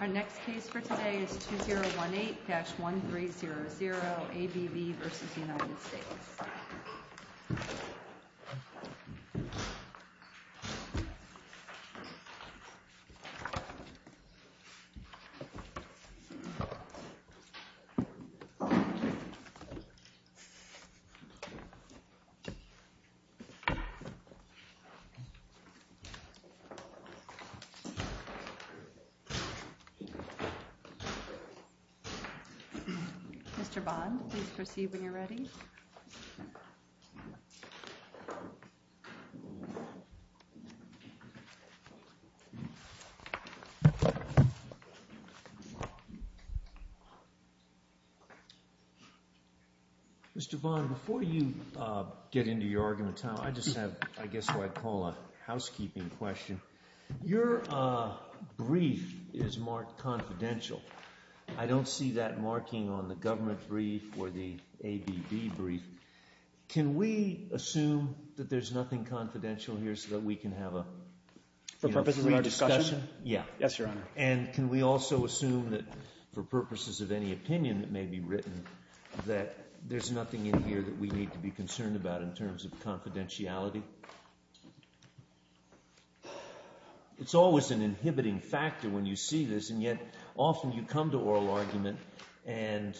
Our next case for today is 2018-1300, ABB v. United States. Mr. Bond, please proceed when you're ready. Mr. Bond, before you get into your argument, I just have what I guess I'd call a housekeeping question. Your brief is marked confidential. I don't see that marking on the government brief or the ABB brief. Can we assume that there's nothing confidential here so that we can have a free discussion? Yes, Your Honor. And can we also assume that, for purposes of any opinion that may be written, that there's nothing in here that we need to be concerned about in terms of confidentiality? It's always an inhibiting factor when you see this, and yet often you come to oral argument and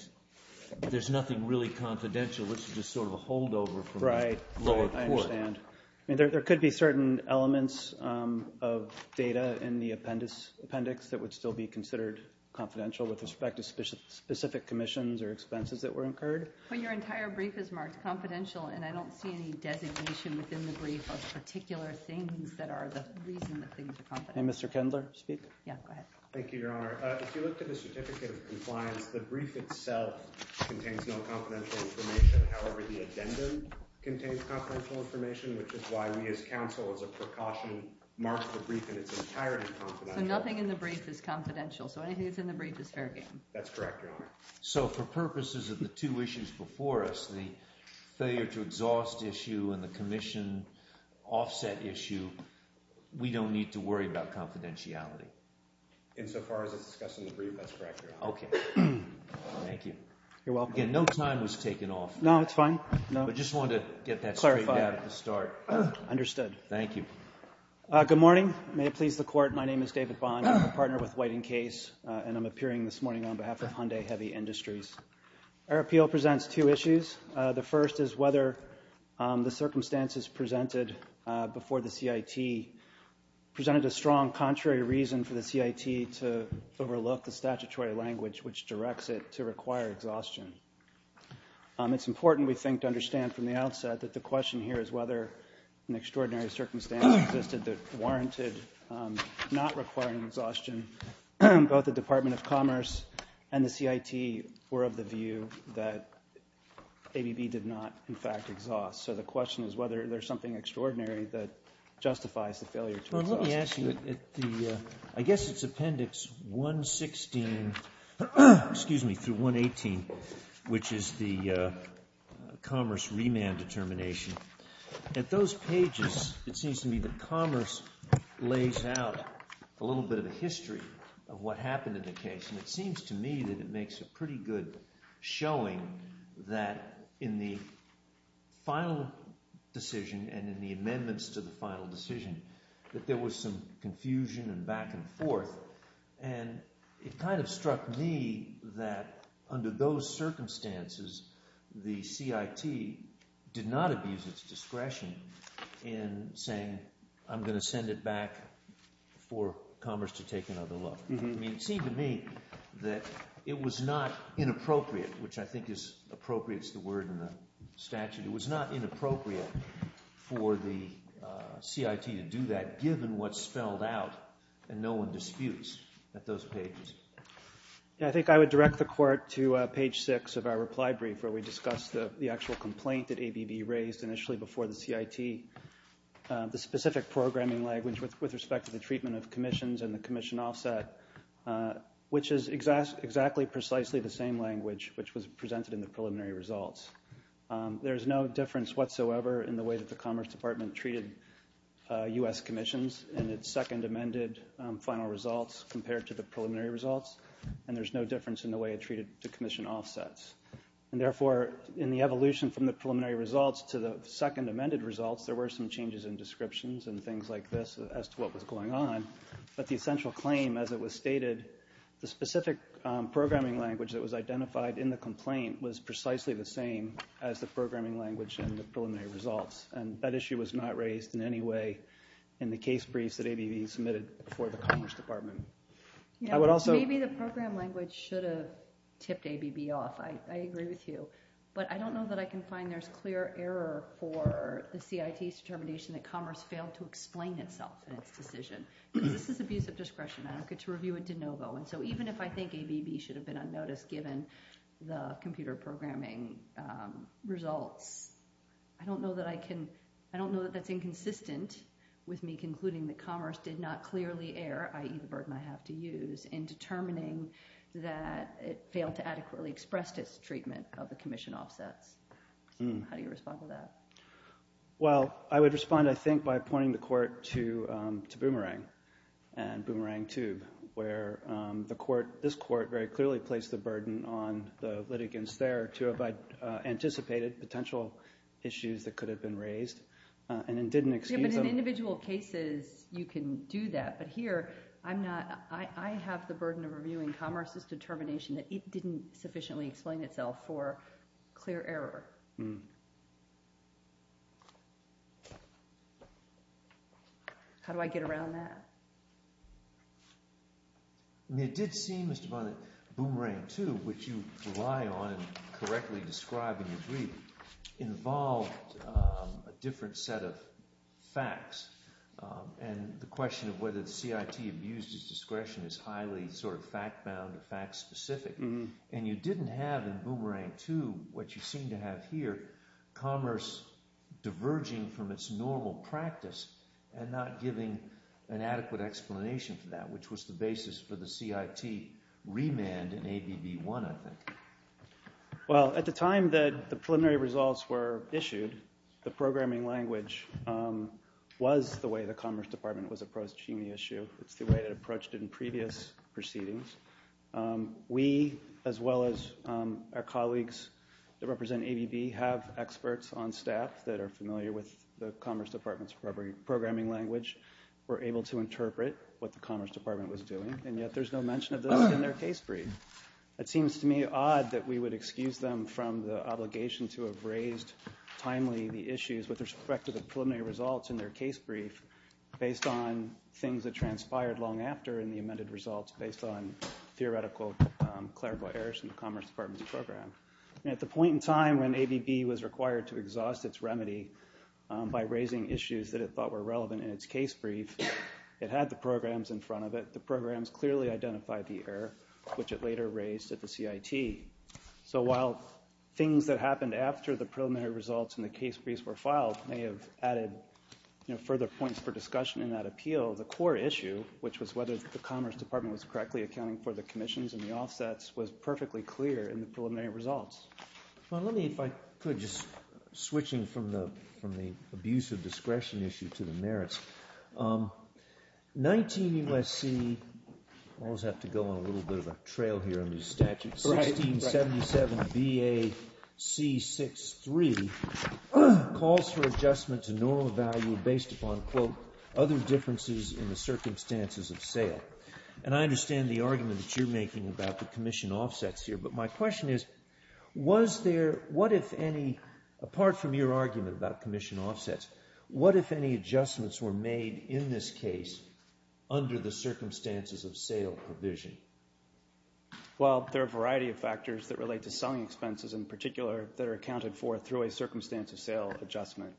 there's nothing really confidential. This is just sort of a holdover from the lower court. Right. I understand. I mean, there could be certain elements of data in the appendix that would still be considered confidential with respect to specific commissions or expenses that were incurred. Well, your entire brief is marked confidential, and I don't see any designation within the brief of particular things that are the reason that things are confidential. Hey, Mr. Kindler, speak. Yeah, go ahead. Thank you, Your Honor. If you look at the certificate of compliance, the brief itself contains no confidential information. However, the addendum contains confidential information, which is why we as counsel as a precaution mark the brief in its entirety confidential. So nothing in the brief is confidential. So anything that's in the brief is fair game. That's correct, Your Honor. So for purposes of the two issues before us, the failure to exhaust issue and the commission offset issue, we don't need to worry about confidentiality. Insofar as it's discussed in the brief, that's correct, Your Honor. Okay. Thank you. You're welcome. Again, no time was taken off. No, it's fine. I just wanted to get that straight out at the start. Understood. Thank you. Good morning. May it please the Court, my name is David Bond. I'm a partner with White & Case, and I'm appearing this morning on behalf of Hyundai Heavy Industries. Our appeal presents two issues. The first is whether the circumstances presented before the CIT presented a strong contrary reason for the CIT to overlook the statutory language which directs it to require exhaustion. It's important, we think, to understand from the outset that the question here is whether an extraordinary circumstance existed that warranted not requiring exhaustion. Both the Department of Commerce and the CIT were of the view that ABB did not, in fact, exhaust. So the question is whether there's something extraordinary that justifies the failure to exhaust. Well, let me ask you, I guess it's Appendix 116, excuse me, through 118, which is the Commerce remand determination. At those pages, it seems to me that Commerce lays out a little bit of a history of what happened in the case. And it seems to me that it makes a pretty good showing that in the final decision and in the amendments to the final decision that there was some confusion and back and forth. And it kind of struck me that under those circumstances, the CIT did not abuse its discretion in saying, I'm going to send it back for Commerce to take another look. It seemed to me that it was not inappropriate, which I think is appropriate is the word in the statute. It was not inappropriate for the CIT to do that given what's spelled out and no one disputes at those pages. I think I would direct the Court to page 6 of our reply brief where we discussed the actual complaint that ABB raised initially before the CIT. The specific programming language with respect to the treatment of commissions and the commission offset, which is exactly precisely the same language which was presented in the preliminary results. There is no difference whatsoever in the way that the Commerce Department treated U.S. commissions in its second amended final results compared to the preliminary results. And there's no difference in the way it treated the commission offsets. And therefore, in the evolution from the preliminary results to the second amended results, there were some changes in descriptions and things like this as to what was going on. But the essential claim, as it was stated, the specific programming language that was identified in the complaint was precisely the same as the programming language in the preliminary results. And that issue was not raised in any way in the case briefs that ABB submitted before the Commerce Department. Maybe the program language should have tipped ABB off. I agree with you. But I don't know that I can find there's clear error for the CIT's determination that Commerce failed to explain itself in its decision. This is abuse of discretion. And so even if I think ABB should have been unnoticed given the computer programming results, I don't know that I can – I don't know that that's inconsistent with me concluding that Commerce did not clearly err, i.e. the burden I have to use, in determining that it failed to adequately express its treatment of the commission offsets. How do you respond to that? Well, I would respond, I think, by pointing the court to Boomerang and Boomerang Tube where the court – this court very clearly placed the burden on the litigants there to have anticipated potential issues that could have been raised and then didn't excuse them. Yeah, but in individual cases you can do that. But here I'm not – I have the burden of reviewing Commerce's determination that it didn't sufficiently explain itself for clear error. How do I get around that? It did seem, Mr. Bond, that Boomerang Tube, which you rely on and correctly describe in your brief, involved a different set of facts and the question of whether the CIT abused its discretion is highly sort of fact-bound or fact-specific. And you didn't have in Boomerang Tube what you seem to have here, Commerce diverging from its normal practice and not giving an adequate explanation for that, which was the basis for the CIT remand in ABB 1, I think. Well, at the time that the preliminary results were issued, the programming language was the way the Commerce Department was approaching the issue. It's the way it approached it in previous proceedings. We, as well as our colleagues that represent ABB, have experts on staff that are familiar with the Commerce Department's programming language. We're able to interpret what the Commerce Department was doing, and yet there's no mention of this in their case brief. It seems to me odd that we would excuse them from the obligation to have raised timely the issues with respect to the preliminary results in their case brief based on things that transpired long after in the amended results based on theoretical clerical errors in the Commerce Department's program. At the point in time when ABB was required to exhaust its remedy by raising issues that it thought were relevant in its case brief, it had the programs in front of it. The programs clearly identified the error, which it later raised at the CIT. So while things that happened after the preliminary results in the case briefs were filed may have added further points for discussion in that appeal, the core issue, which was whether the Commerce Department was correctly accounting for the commissions and the offsets, was perfectly clear in the preliminary results. Well, let me, if I could, just switching from the abuse of discretion issue to the merits. 19 U.S.C. I always have to go on a little bit of a trail here under the statute. 1677 B.A.C. 6.3 calls for adjustment to normal value based upon, quote, other differences in the circumstances of sale. And I understand the argument that you're making about the commission offsets here, but my question is, was there, what if any, apart from your argument about commission offsets, what if any adjustments were made in this case under the circumstances of sale provision? Well, there are a variety of factors that relate to selling expenses in particular that are accounted for through a circumstance of sale adjustment.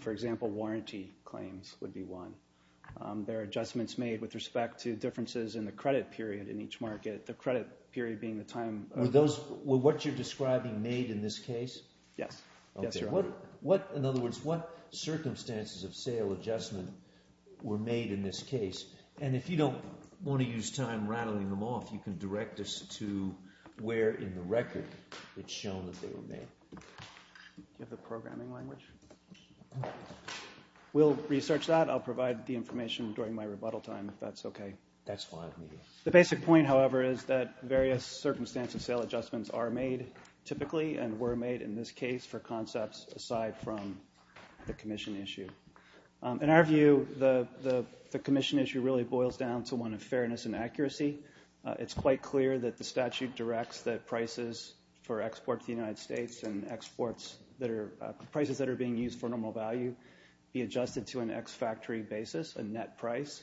For example, warranty claims would be one. There are adjustments made with respect to differences in the credit period in each market, the credit period being the time. Were those what you're describing made in this case? Yes. Okay. What, in other words, what circumstances of sale adjustment were made in this case? And if you don't want to use time rattling them off, you can direct us to where in the record it's shown that they were made. Do you have the programming language? We'll research that. I'll provide the information during my rebuttal time if that's okay. That's fine with me. The basic point, however, is that various circumstances of sale adjustments are made typically and were made in this case for concepts aside from the commission issue. In our view, the commission issue really boils down to one of fairness and accuracy. It's quite clear that the statute directs that prices for exports to the United States and prices that are being used for normal value be adjusted to an ex-factory basis, a net price,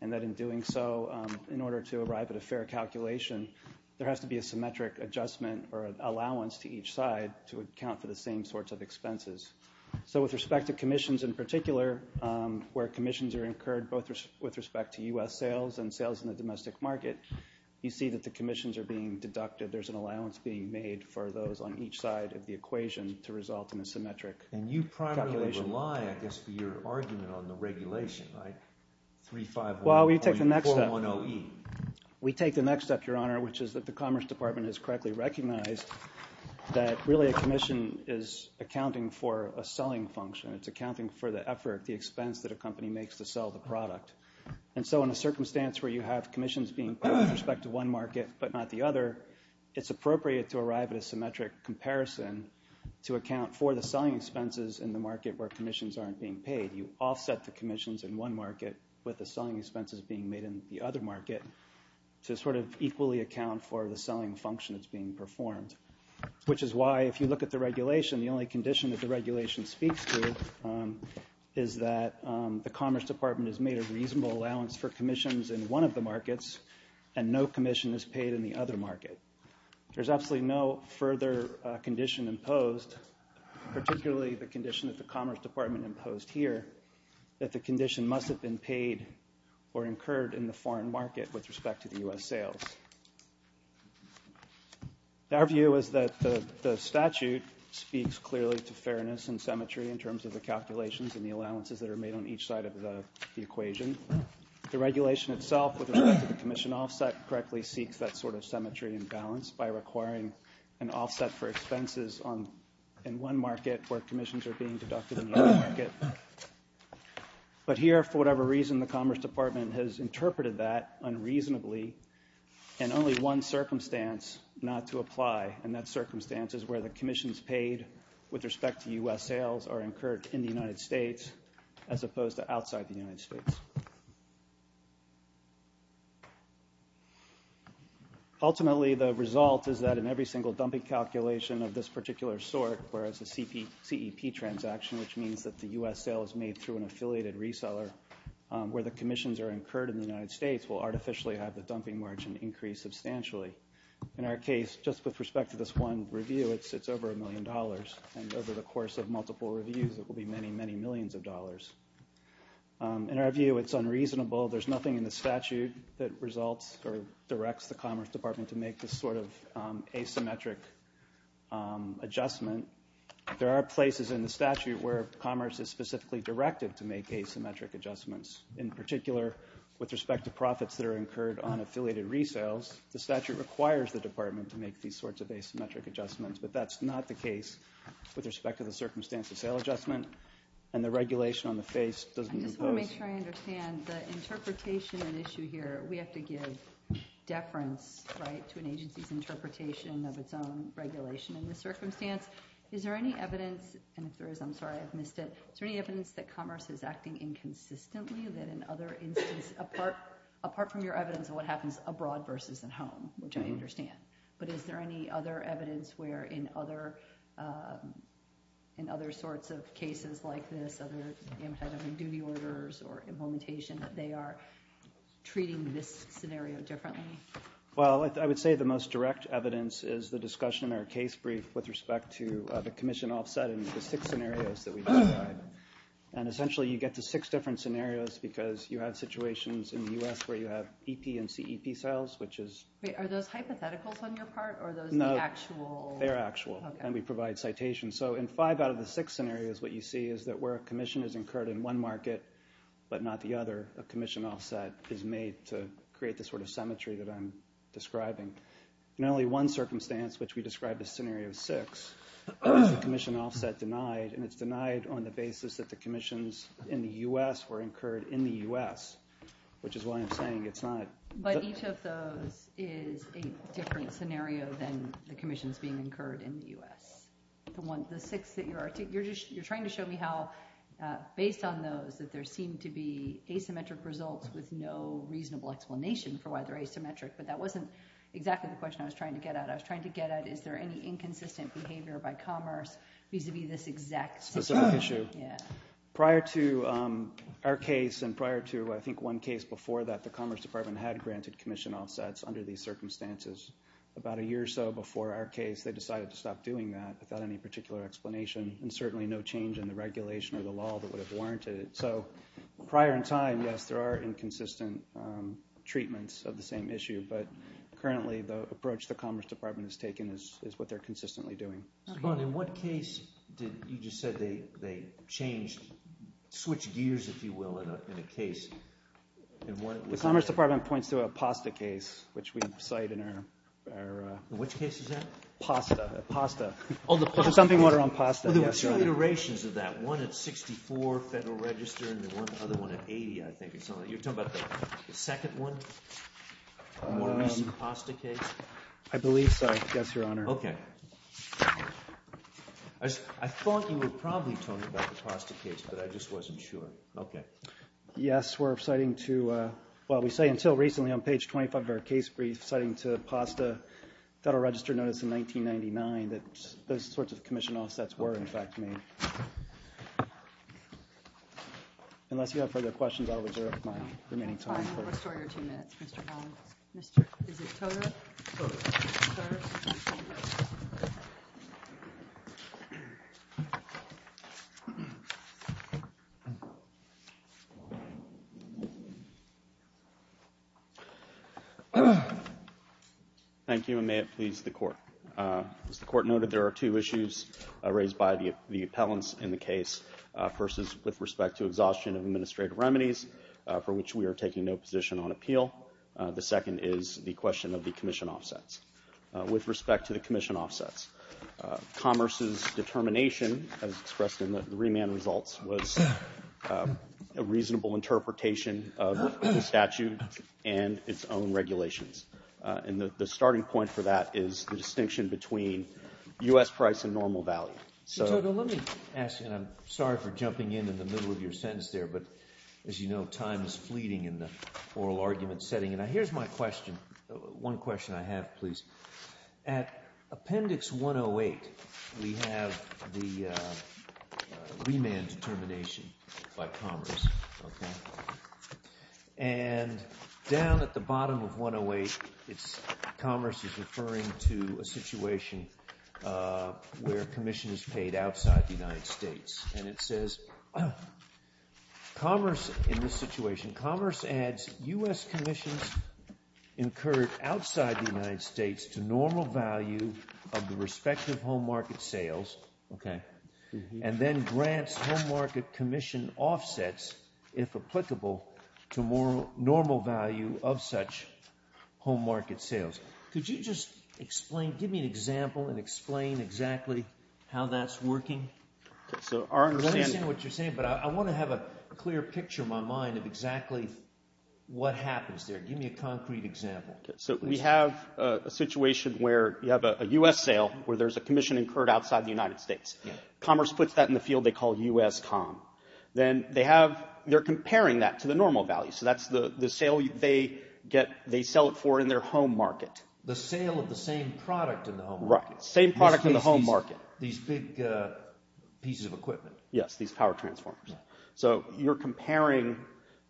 and that in doing so, in order to arrive at a fair calculation, there has to be a symmetric adjustment or allowance to each side to account for the same sorts of expenses. So with respect to commissions in particular, where commissions are incurred both with respect to U.S. sales and sales in the domestic market, you see that the commissions are being deducted. There's an allowance being made for those on each side of the equation to result in a symmetric calculation. And you primarily rely, I guess, for your argument on the regulation, right? 3-5-1-0-E. We take the next step, Your Honor, which is that the Commerce Department has correctly recognized that really a commission is accounting for a selling function. It's accounting for the effort, the expense that a company makes to sell the product. And so in a circumstance where you have commissions being paid with respect to one market but not the other, it's appropriate to arrive at a symmetric comparison to account for the selling expenses in the market where commissions aren't being paid. You offset the commissions in one market with the selling expenses being made in the other market to sort of equally account for the selling function that's being performed, which is why if you look at the regulation, the only condition that the regulation speaks to is that the Commerce Department has made a reasonable allowance for commissions in one of the markets and no commission is paid in the other market. There's absolutely no further condition imposed, particularly the condition that the Commerce Department imposed here, that the condition must have been paid or incurred in the foreign market with respect to the U.S. sales. Our view is that the statute speaks clearly to fairness and symmetry in terms of the calculations and the allowances that are made on each side of the equation. The regulation itself, with respect to the commission offset, correctly seeks that sort of symmetry and balance by requiring an offset for expenses in one market where commissions are being deducted in the other market. But here, for whatever reason, the Commerce Department has interpreted that unreasonably and only one circumstance not to apply, and that circumstance is where the commissions paid with respect to U.S. sales are incurred in the United States as opposed to outside the United States. Ultimately, the result is that in every single dumping calculation of this particular sort, whereas the CEP transaction, which means that the U.S. sale is made through an affiliated reseller, where the commissions are incurred in the United States, will artificially have the dumping margin increase substantially. In our case, just with respect to this one review, it's over a million dollars, and over the course of multiple reviews, it will be many, many millions of dollars. In our view, it's unreasonable. There's nothing in the statute that results or directs the Commerce Department to make this sort of asymmetric adjustment. There are places in the statute where commerce is specifically directed to make asymmetric adjustments. In particular, with respect to profits that are incurred on affiliated resales, the statute requires the department to make these sorts of asymmetric adjustments, but that's not the case with respect to the circumstance of sale adjustment, and the regulation on the face doesn't impose. I just want to make sure I understand the interpretation and issue here. We have to give deference to an agency's interpretation of its own regulation in this circumstance. Is there any evidence, and if there is, I'm sorry, I've missed it. Is there any evidence that commerce is acting inconsistently, that in other instances, apart from your evidence of what happens abroad versus at home, which I understand, but is there any other evidence where in other sorts of cases like this, other duty orders or implementation, that they are treating this scenario differently? Well, I would say the most direct evidence is the discussion in our case brief with respect to the commission offset and the six scenarios that we've described. And essentially, you get to six different scenarios because you have situations in the U.S. where you have EP and CEP sales, which is— Are those on your part, or are those the actual— No, they're actual, and we provide citations. So in five out of the six scenarios, what you see is that where a commission is incurred in one market but not the other, a commission offset is made to create the sort of symmetry that I'm describing. In only one circumstance, which we described as scenario six, there's a commission offset denied, and it's denied on the basis that the commissions in the U.S. were incurred in the U.S., which is why I'm saying it's not— But each of those is a different scenario than the commissions being incurred in the U.S. The six that you're—you're trying to show me how, based on those, that there seem to be asymmetric results with no reasonable explanation for why they're asymmetric, but that wasn't exactly the question I was trying to get at. I was trying to get at is there any inconsistent behavior by commerce vis-à-vis this exact— Specific issue. Yeah. I think one case before that, the Commerce Department had granted commission offsets under these circumstances. About a year or so before our case, they decided to stop doing that without any particular explanation and certainly no change in the regulation or the law that would have warranted it. So prior in time, yes, there are inconsistent treatments of the same issue, but currently the approach the Commerce Department has taken is what they're consistently doing. Mr. Bond, in what case did—you just said they changed—switched gears, if you will, in a case? The Commerce Department points to a PASTA case, which we cite in our— Which case is that? PASTA. PASTA. Oh, the PASTA case. Something around PASTA. Well, there were two iterations of that, one at 64 Federal Register and then one other one at 80, I think. You're talking about the second one? More recent PASTA case? I believe so, yes, Your Honor. Okay. I thought you were probably talking about the PASTA case, but I just wasn't sure. Okay. Yes, we're citing to—well, we say until recently on page 25 of our case brief, citing to PASTA Federal Register notice in 1999 that those sorts of commission offsets were, in fact, made. Unless you have further questions, I'll reserve my remaining time. We'll restore your two minutes, Mr. Bond. Is it TOTA? TOTA. Okay. Thank you, and may it please the Court. As the Court noted, there are two issues raised by the appellants in the case. First is with respect to exhaustion of administrative remedies, for which we are taking no position on appeal. The second is the question of the commission offsets. With respect to the commission offsets, Commerce's determination, as expressed in the remand results, was a reasonable interpretation of the statute and its own regulations. And the starting point for that is the distinction between U.S. price and normal value. TOTA, let me ask you, and I'm sorry for jumping in in the middle of your sentence there, but as you know, time is fleeting in the oral argument setting, and here's my question. One question I have, please. At Appendix 108, we have the remand determination by Commerce, okay? And down at the bottom of 108, Commerce is referring to a situation where commission is paid outside the United States. And it says, Commerce in this situation, Commerce adds U.S. commissions incurred outside the United States to normal value of the respective home market sales and then grants home market commission offsets, if applicable, to normal value of such home market sales. Could you just explain, give me an example and explain exactly how that's working? Okay, so our understanding I understand what you're saying, but I want to have a clear picture in my mind of exactly what happens there. Give me a concrete example. Okay, so we have a situation where you have a U.S. sale where there's a commission incurred outside the United States. Commerce puts that in the field they call U.S. com. Then they're comparing that to the normal value, so that's the sale they sell it for in their home market. The sale of the same product in the home market. Right, same product in the home market. These big pieces of equipment. Yes, these power transformers. So you're comparing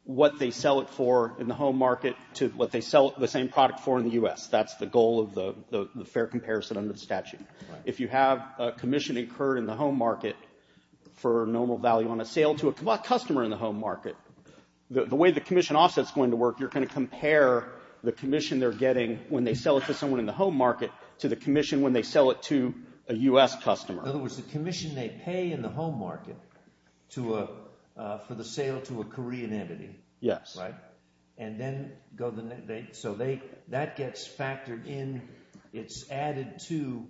what they sell it for in the home market to what they sell the same product for in the U.S. That's the goal of the fair comparison under the statute. If you have a commission incurred in the home market for normal value on a sale to a customer in the home market, the way the commission offset's going to work, you're going to compare the commission they're getting when they sell it to someone in the home market to the commission when they sell it to a U.S. customer. In other words, the commission they pay in the home market for the sale to a Korean entity. Yes. Right? So that gets factored in. It's added to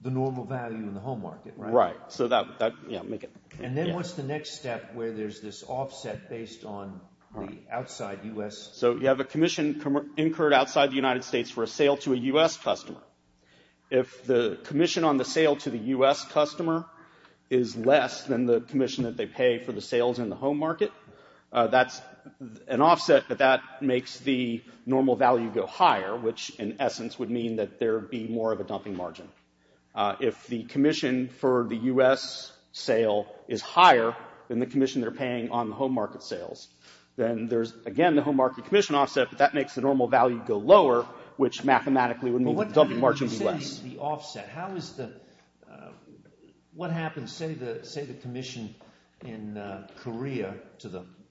the normal value in the home market, right? Right. And then what's the next step where there's this offset based on the outside U.S. So you have a commission incurred outside the United States for a sale to a U.S. customer. If the commission on the sale to the U.S. customer is less than the commission that they pay for the sales in the home market, that's an offset, but that makes the normal value go higher, which in essence would mean that there would be more of a dumping margin. If the commission for the U.S. sale is higher than the commission they're paying on the home market sales, then there's, again, the home market commission offset, but that makes the normal value go lower, which mathematically would mean that the dumping margin would be less. When you say the offset, what happens, say the commission in Korea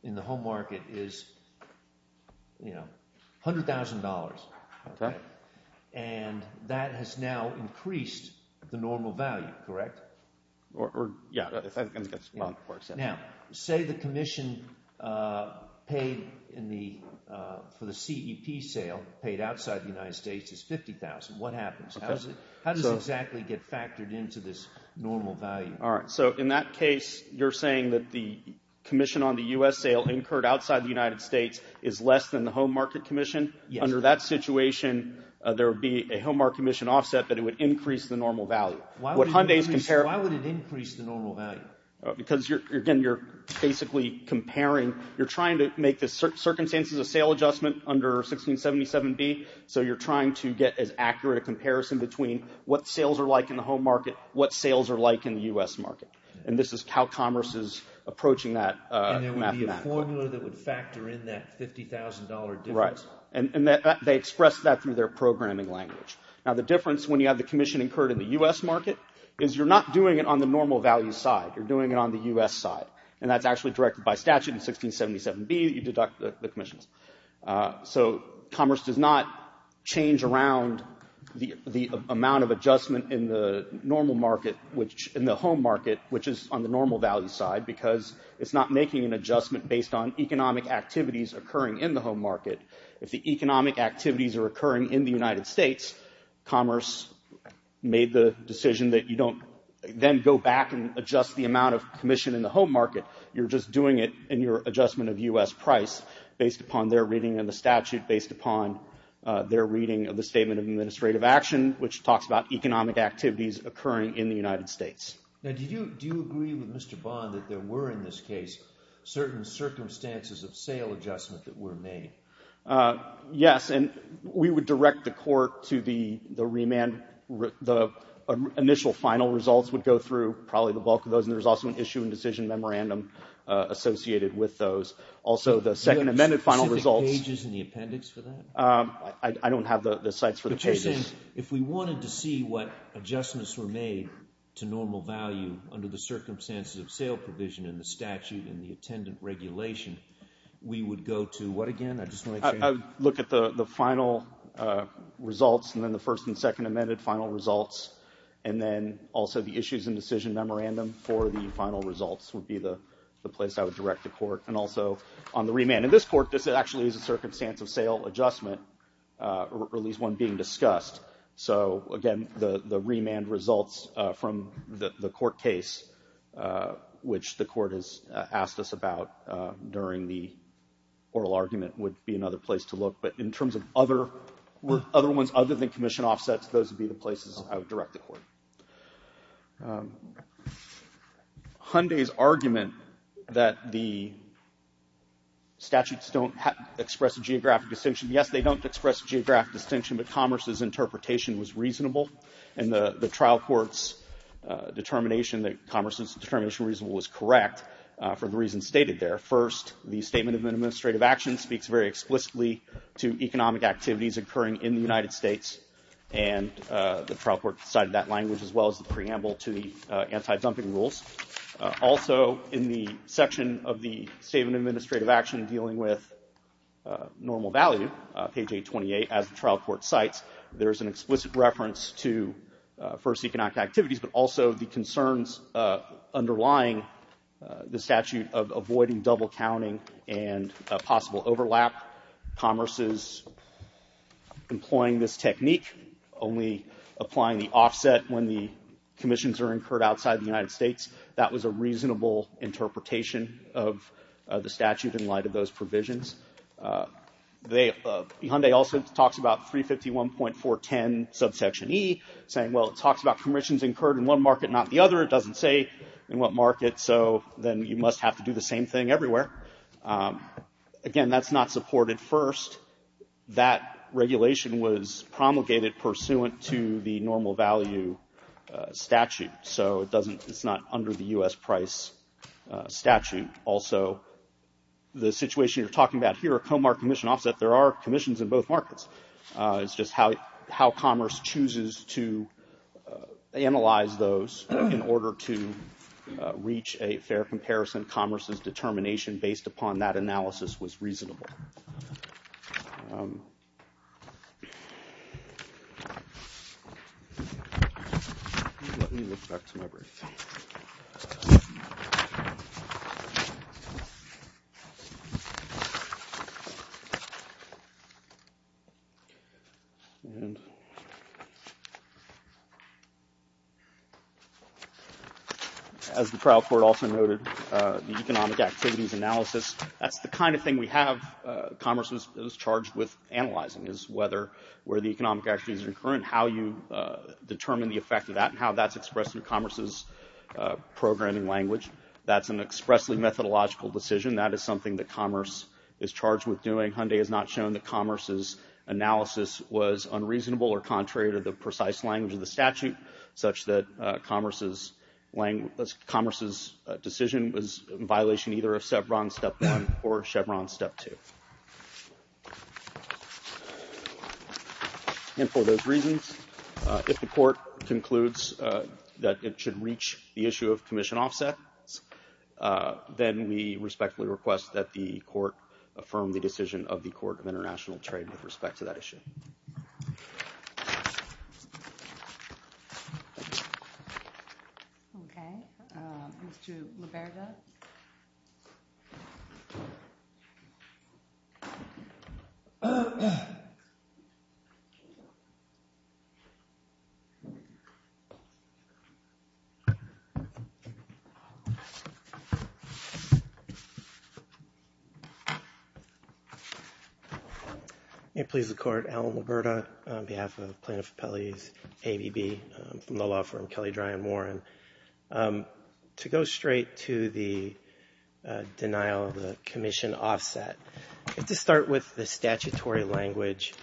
in the home market is $100,000. Okay. And that has now increased the normal value, correct? Yeah. Now, say the commission paid for the CEP sale paid outside the United States is $50,000. What happens? How does it exactly get factored into this normal value? All right. So in that case, you're saying that the commission on the U.S. sale incurred outside the United States is less than the home market commission? Yes. Under that situation, there would be a home market commission offset, but it would increase the normal value. Why would it increase the normal value? Because, again, you're basically comparing. You're trying to make the circumstances of sale adjustment under 1677B, so you're trying to get as accurate a comparison between what sales are like in the home market, what sales are like in the U.S. market. And this is how commerce is approaching that mathematically. And there would be a formula that would factor in that $50,000 difference. Right. And they express that through their programming language. Now, the difference when you have the commission incurred in the U.S. market is you're not doing it on the normal value side. You're doing it on the U.S. side. And that's actually directed by statute in 1677B that you deduct the commissions. So commerce does not change around the amount of adjustment in the normal market, in the home market, which is on the normal value side, because it's not making an adjustment based on economic activities occurring in the home market. If the economic activities are occurring in the United States, commerce made the decision that you don't then go back and adjust the amount of commission in the home market. You're just doing it in your adjustment of U.S. price based upon their reading of the statute, based upon their reading of the Statement of Administrative Action, which talks about economic activities occurring in the United States. Now, do you agree with Mr. Bond that there were in this case certain circumstances of sale adjustment that were made? Yes, and we would direct the court to the remand. The initial final results would go through probably the bulk of those, and there's also an issue and decision memorandum associated with those. Also, the second amended final results. Do you have specific pages in the appendix for that? I don't have the sites for the pages. Because then if we wanted to see what adjustments were made to normal value under the circumstances of sale provision in the statute and the attendant regulation, we would go to what again? I just want to change. I would look at the final results and then the first and second amended final results, and then also the issues and decision memorandum for the final results would be the place I would direct the court, and also on the remand. In this court, this actually is a circumstance of sale adjustment, or at least one being discussed. So, again, the remand results from the court case, which the court has asked us about during the oral argument, would be another place to look. But in terms of other ones other than commission offsets, those would be the places I would direct the court. Hyundai's argument that the statutes don't express a geographic distinction. Yes, they don't express a geographic distinction, but Commerce's interpretation was reasonable, and the trial court's determination that Commerce's determination was correct for the reasons stated there. First, the Statement of Administrative Action speaks very explicitly to economic activities occurring in the United States, and the trial court cited that language as well as the preamble to the anti-dumping rules. Also in the section of the Statement of Administrative Action dealing with normal value, page 828, as the trial court cites, there is an explicit reference to first economic activities, but also the concerns underlying the statute of avoiding double counting and possible overlap. Commerce is employing this technique, only applying the offset when the commissions are incurred outside the United States, that was a reasonable interpretation of the statute in light of those provisions. Hyundai also talks about 351.410 subsection E, saying, well, it talks about commissions incurred in one market, not the other. It doesn't say in what market, so then you must have to do the same thing everywhere. Again, that's not supported first. That regulation was promulgated pursuant to the normal value statute, so it's not under the U.S. price statute. Also, the situation you're talking about here, a comar commission offset, there are commissions in both markets. It's just how commerce chooses to analyze those in order to reach a fair comparison. Commerce's determination based upon that analysis was reasonable. As the trial court also noted, the economic activities analysis, that's the kind of thing we have commerce is charged with analyzing, is whether where the economic activities are occurring, how you determine the effect of that and how that's expressed in commerce's programming language. That's an expressly methodological decision. That is something that commerce is charged with doing. Hyundai has not shown that commerce's analysis was unreasonable or contrary to the precise language of the statute, such that commerce's decision was in violation either of Chevron step one or Chevron step two. And for those reasons, if the court concludes that it should reach the issue of commission offset, then we respectfully request that the court affirm the decision of the Court of International Trade with respect to that issue. Thank you. May it please the Court, Alan Liberda on behalf of Plaintiff Appellee's ABB from the law firm Kelly Dry and Warren. To go straight to the denial of the commission offset, we have to start with the statutory language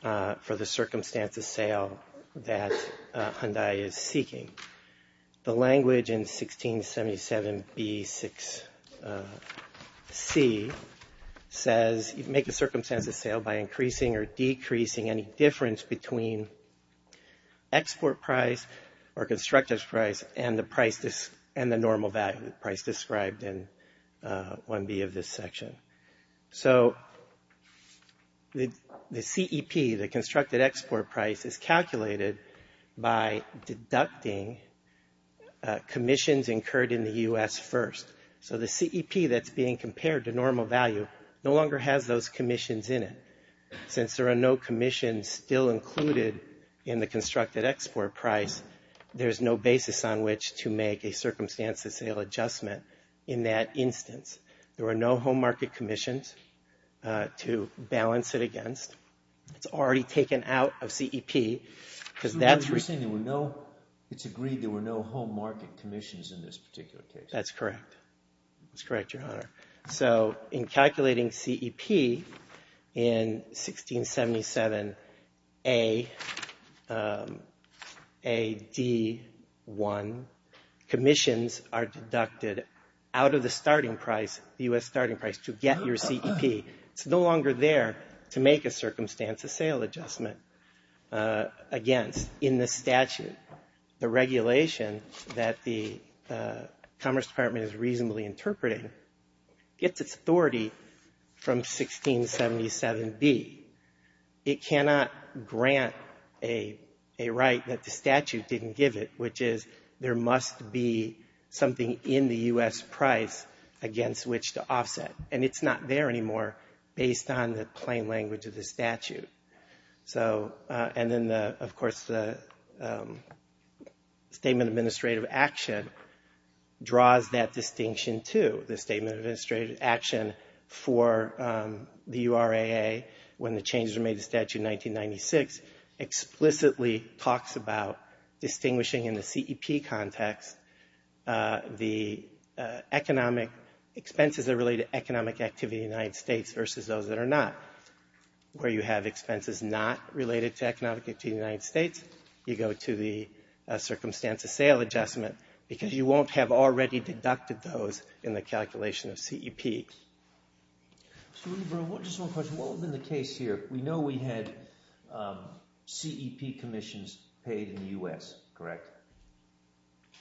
for the circumstances sale that Hyundai is seeking. The language in 1677B6C says, make a circumstances sale by increasing or decreasing any difference between export price or constructed price and the normal value price described in 1B of this section. So the CEP, the constructed export price, is calculated by deducting commissions incurred in the U.S. first. So the CEP that's being compared to normal value no longer has those commissions in it. Since there are no commissions still included in the constructed export price, there's no basis on which to make a circumstances sale adjustment in that instance. There were no home market commissions to balance it against. It's already taken out of CEP because that's what we're saying. It's agreed there were no home market commissions in this particular case. That's correct. That's correct, Your Honor. So in calculating CEP in 1677A-D1, commissions are deducted out of the starting price, the U.S. starting price, to get your CEP. It's no longer there to make a circumstances sale adjustment against in the statute. The regulation that the Commerce Department is reasonably interpreting gets its authority from 1677B. It cannot grant a right that the statute didn't give it, which is there must be something in the U.S. price against which to offset. And it's not there anymore based on the plain language of the statute. And then, of course, the Statement of Administrative Action draws that distinction too. The Statement of Administrative Action for the URAA when the changes were made to Statute 1996 explicitly talks about distinguishing in the CEP context the economic expenses that are related to economic activity in the United States versus those that are not. Where you have expenses not related to economic activity in the United States, you go to the circumstances sale adjustment because you won't have already deducted those in the calculation of CEP. Mr. Lieber, just one question. What was in the case here? We know we had CEP commissions paid in the U.S., correct?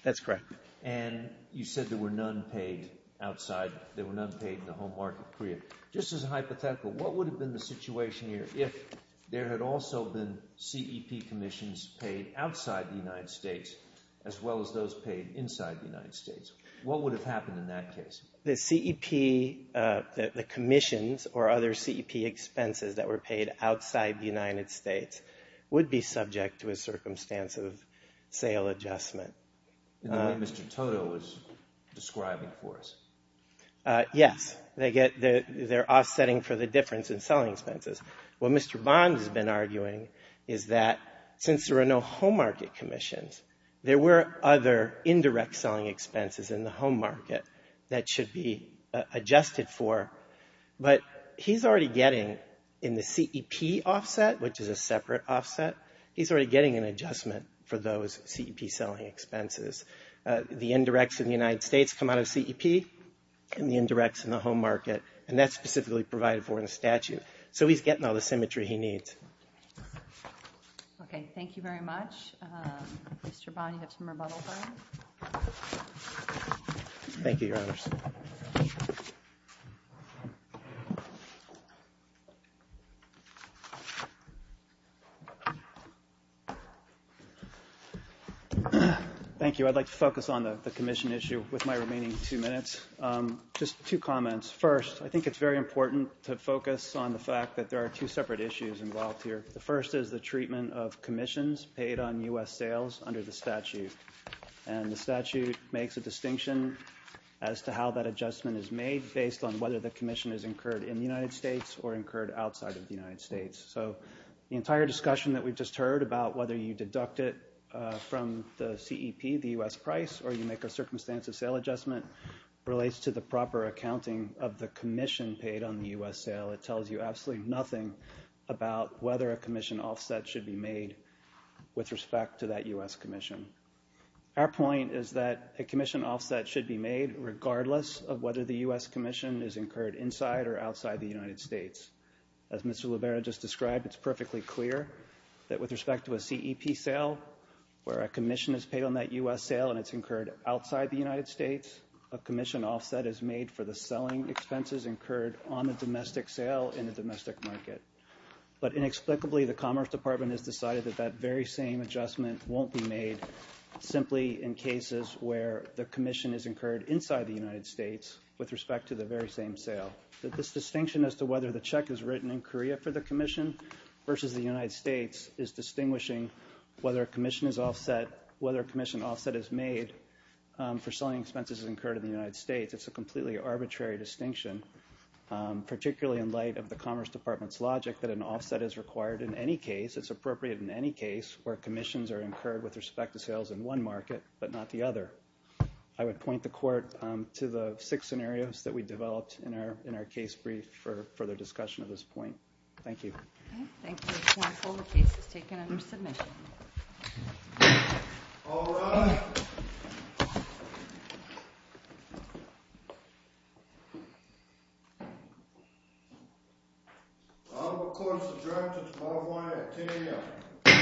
That's correct. And you said there were none paid outside. There were none paid in the home market period. Just as a hypothetical, what would have been the situation here if there had also been CEP commissions paid outside the United States as well as those paid inside the United States? What would have happened in that case? The CEP commissions or other CEP expenses that were paid outside the United States would be subject to a circumstance of sale adjustment. The way Mr. Toto was describing for us. Yes. They're offsetting for the difference in selling expenses. What Mr. Bond has been arguing is that since there are no home market commissions, there were other indirect selling expenses in the home market that should be adjusted for. But he's already getting in the CEP offset, which is a separate offset, he's already getting an adjustment for those CEP selling expenses. The indirects in the United States come out of CEP and the indirects in the home market. And that's specifically provided for in the statute. So he's getting all the symmetry he needs. Okay. Thank you very much. Mr. Bond, you have some rebuttals. Thank you, Your Honors. Thank you. I'd like to focus on the commission issue with my remaining two minutes. Just two comments. First, I think it's very important to focus on the fact that there are two separate issues involved here. The first is the treatment of commissions paid on U.S. sales under the statute. And the statute makes a distinction as to how that adjustment is made based on whether the commission is incurred in the United States or incurred outside of the United States. So the entire discussion that we've just heard about whether you deduct it from the CEP, the U.S. price, or you make a circumstance of sale adjustment relates to the proper accounting of the commission paid on the U.S. sale. It tells you absolutely nothing about whether a commission offset should be made with respect to that U.S. commission. Our point is that a commission offset should be made regardless of whether the U.S. commission is incurred inside or outside the United States. As Mr. Libera just described, it's perfectly clear that with respect to a CEP sale, where a commission is paid on that U.S. sale and it's incurred outside the United States, a commission offset is made for the selling expenses incurred on the domestic sale in the domestic market. But inexplicably, the Commerce Department has decided that that very same adjustment won't be made simply in cases where the commission is incurred inside the United States with respect to the very same sale. This distinction as to whether the check is written in Korea for the commission versus the United States is distinguishing whether a commission offset is made for selling expenses incurred in the United States. It's a completely arbitrary distinction, particularly in light of the Commerce Department's logic that an offset is required in any case. It's appropriate in any case where commissions are incurred with respect to sales in one market but not the other. I would point the Court to the six scenarios that we developed in our case brief for further discussion of this point. Thank you. Thank you, Counsel. The case is taken under submission. All rise. I now call the Court of Subjects. 5-1 at 10 a.m.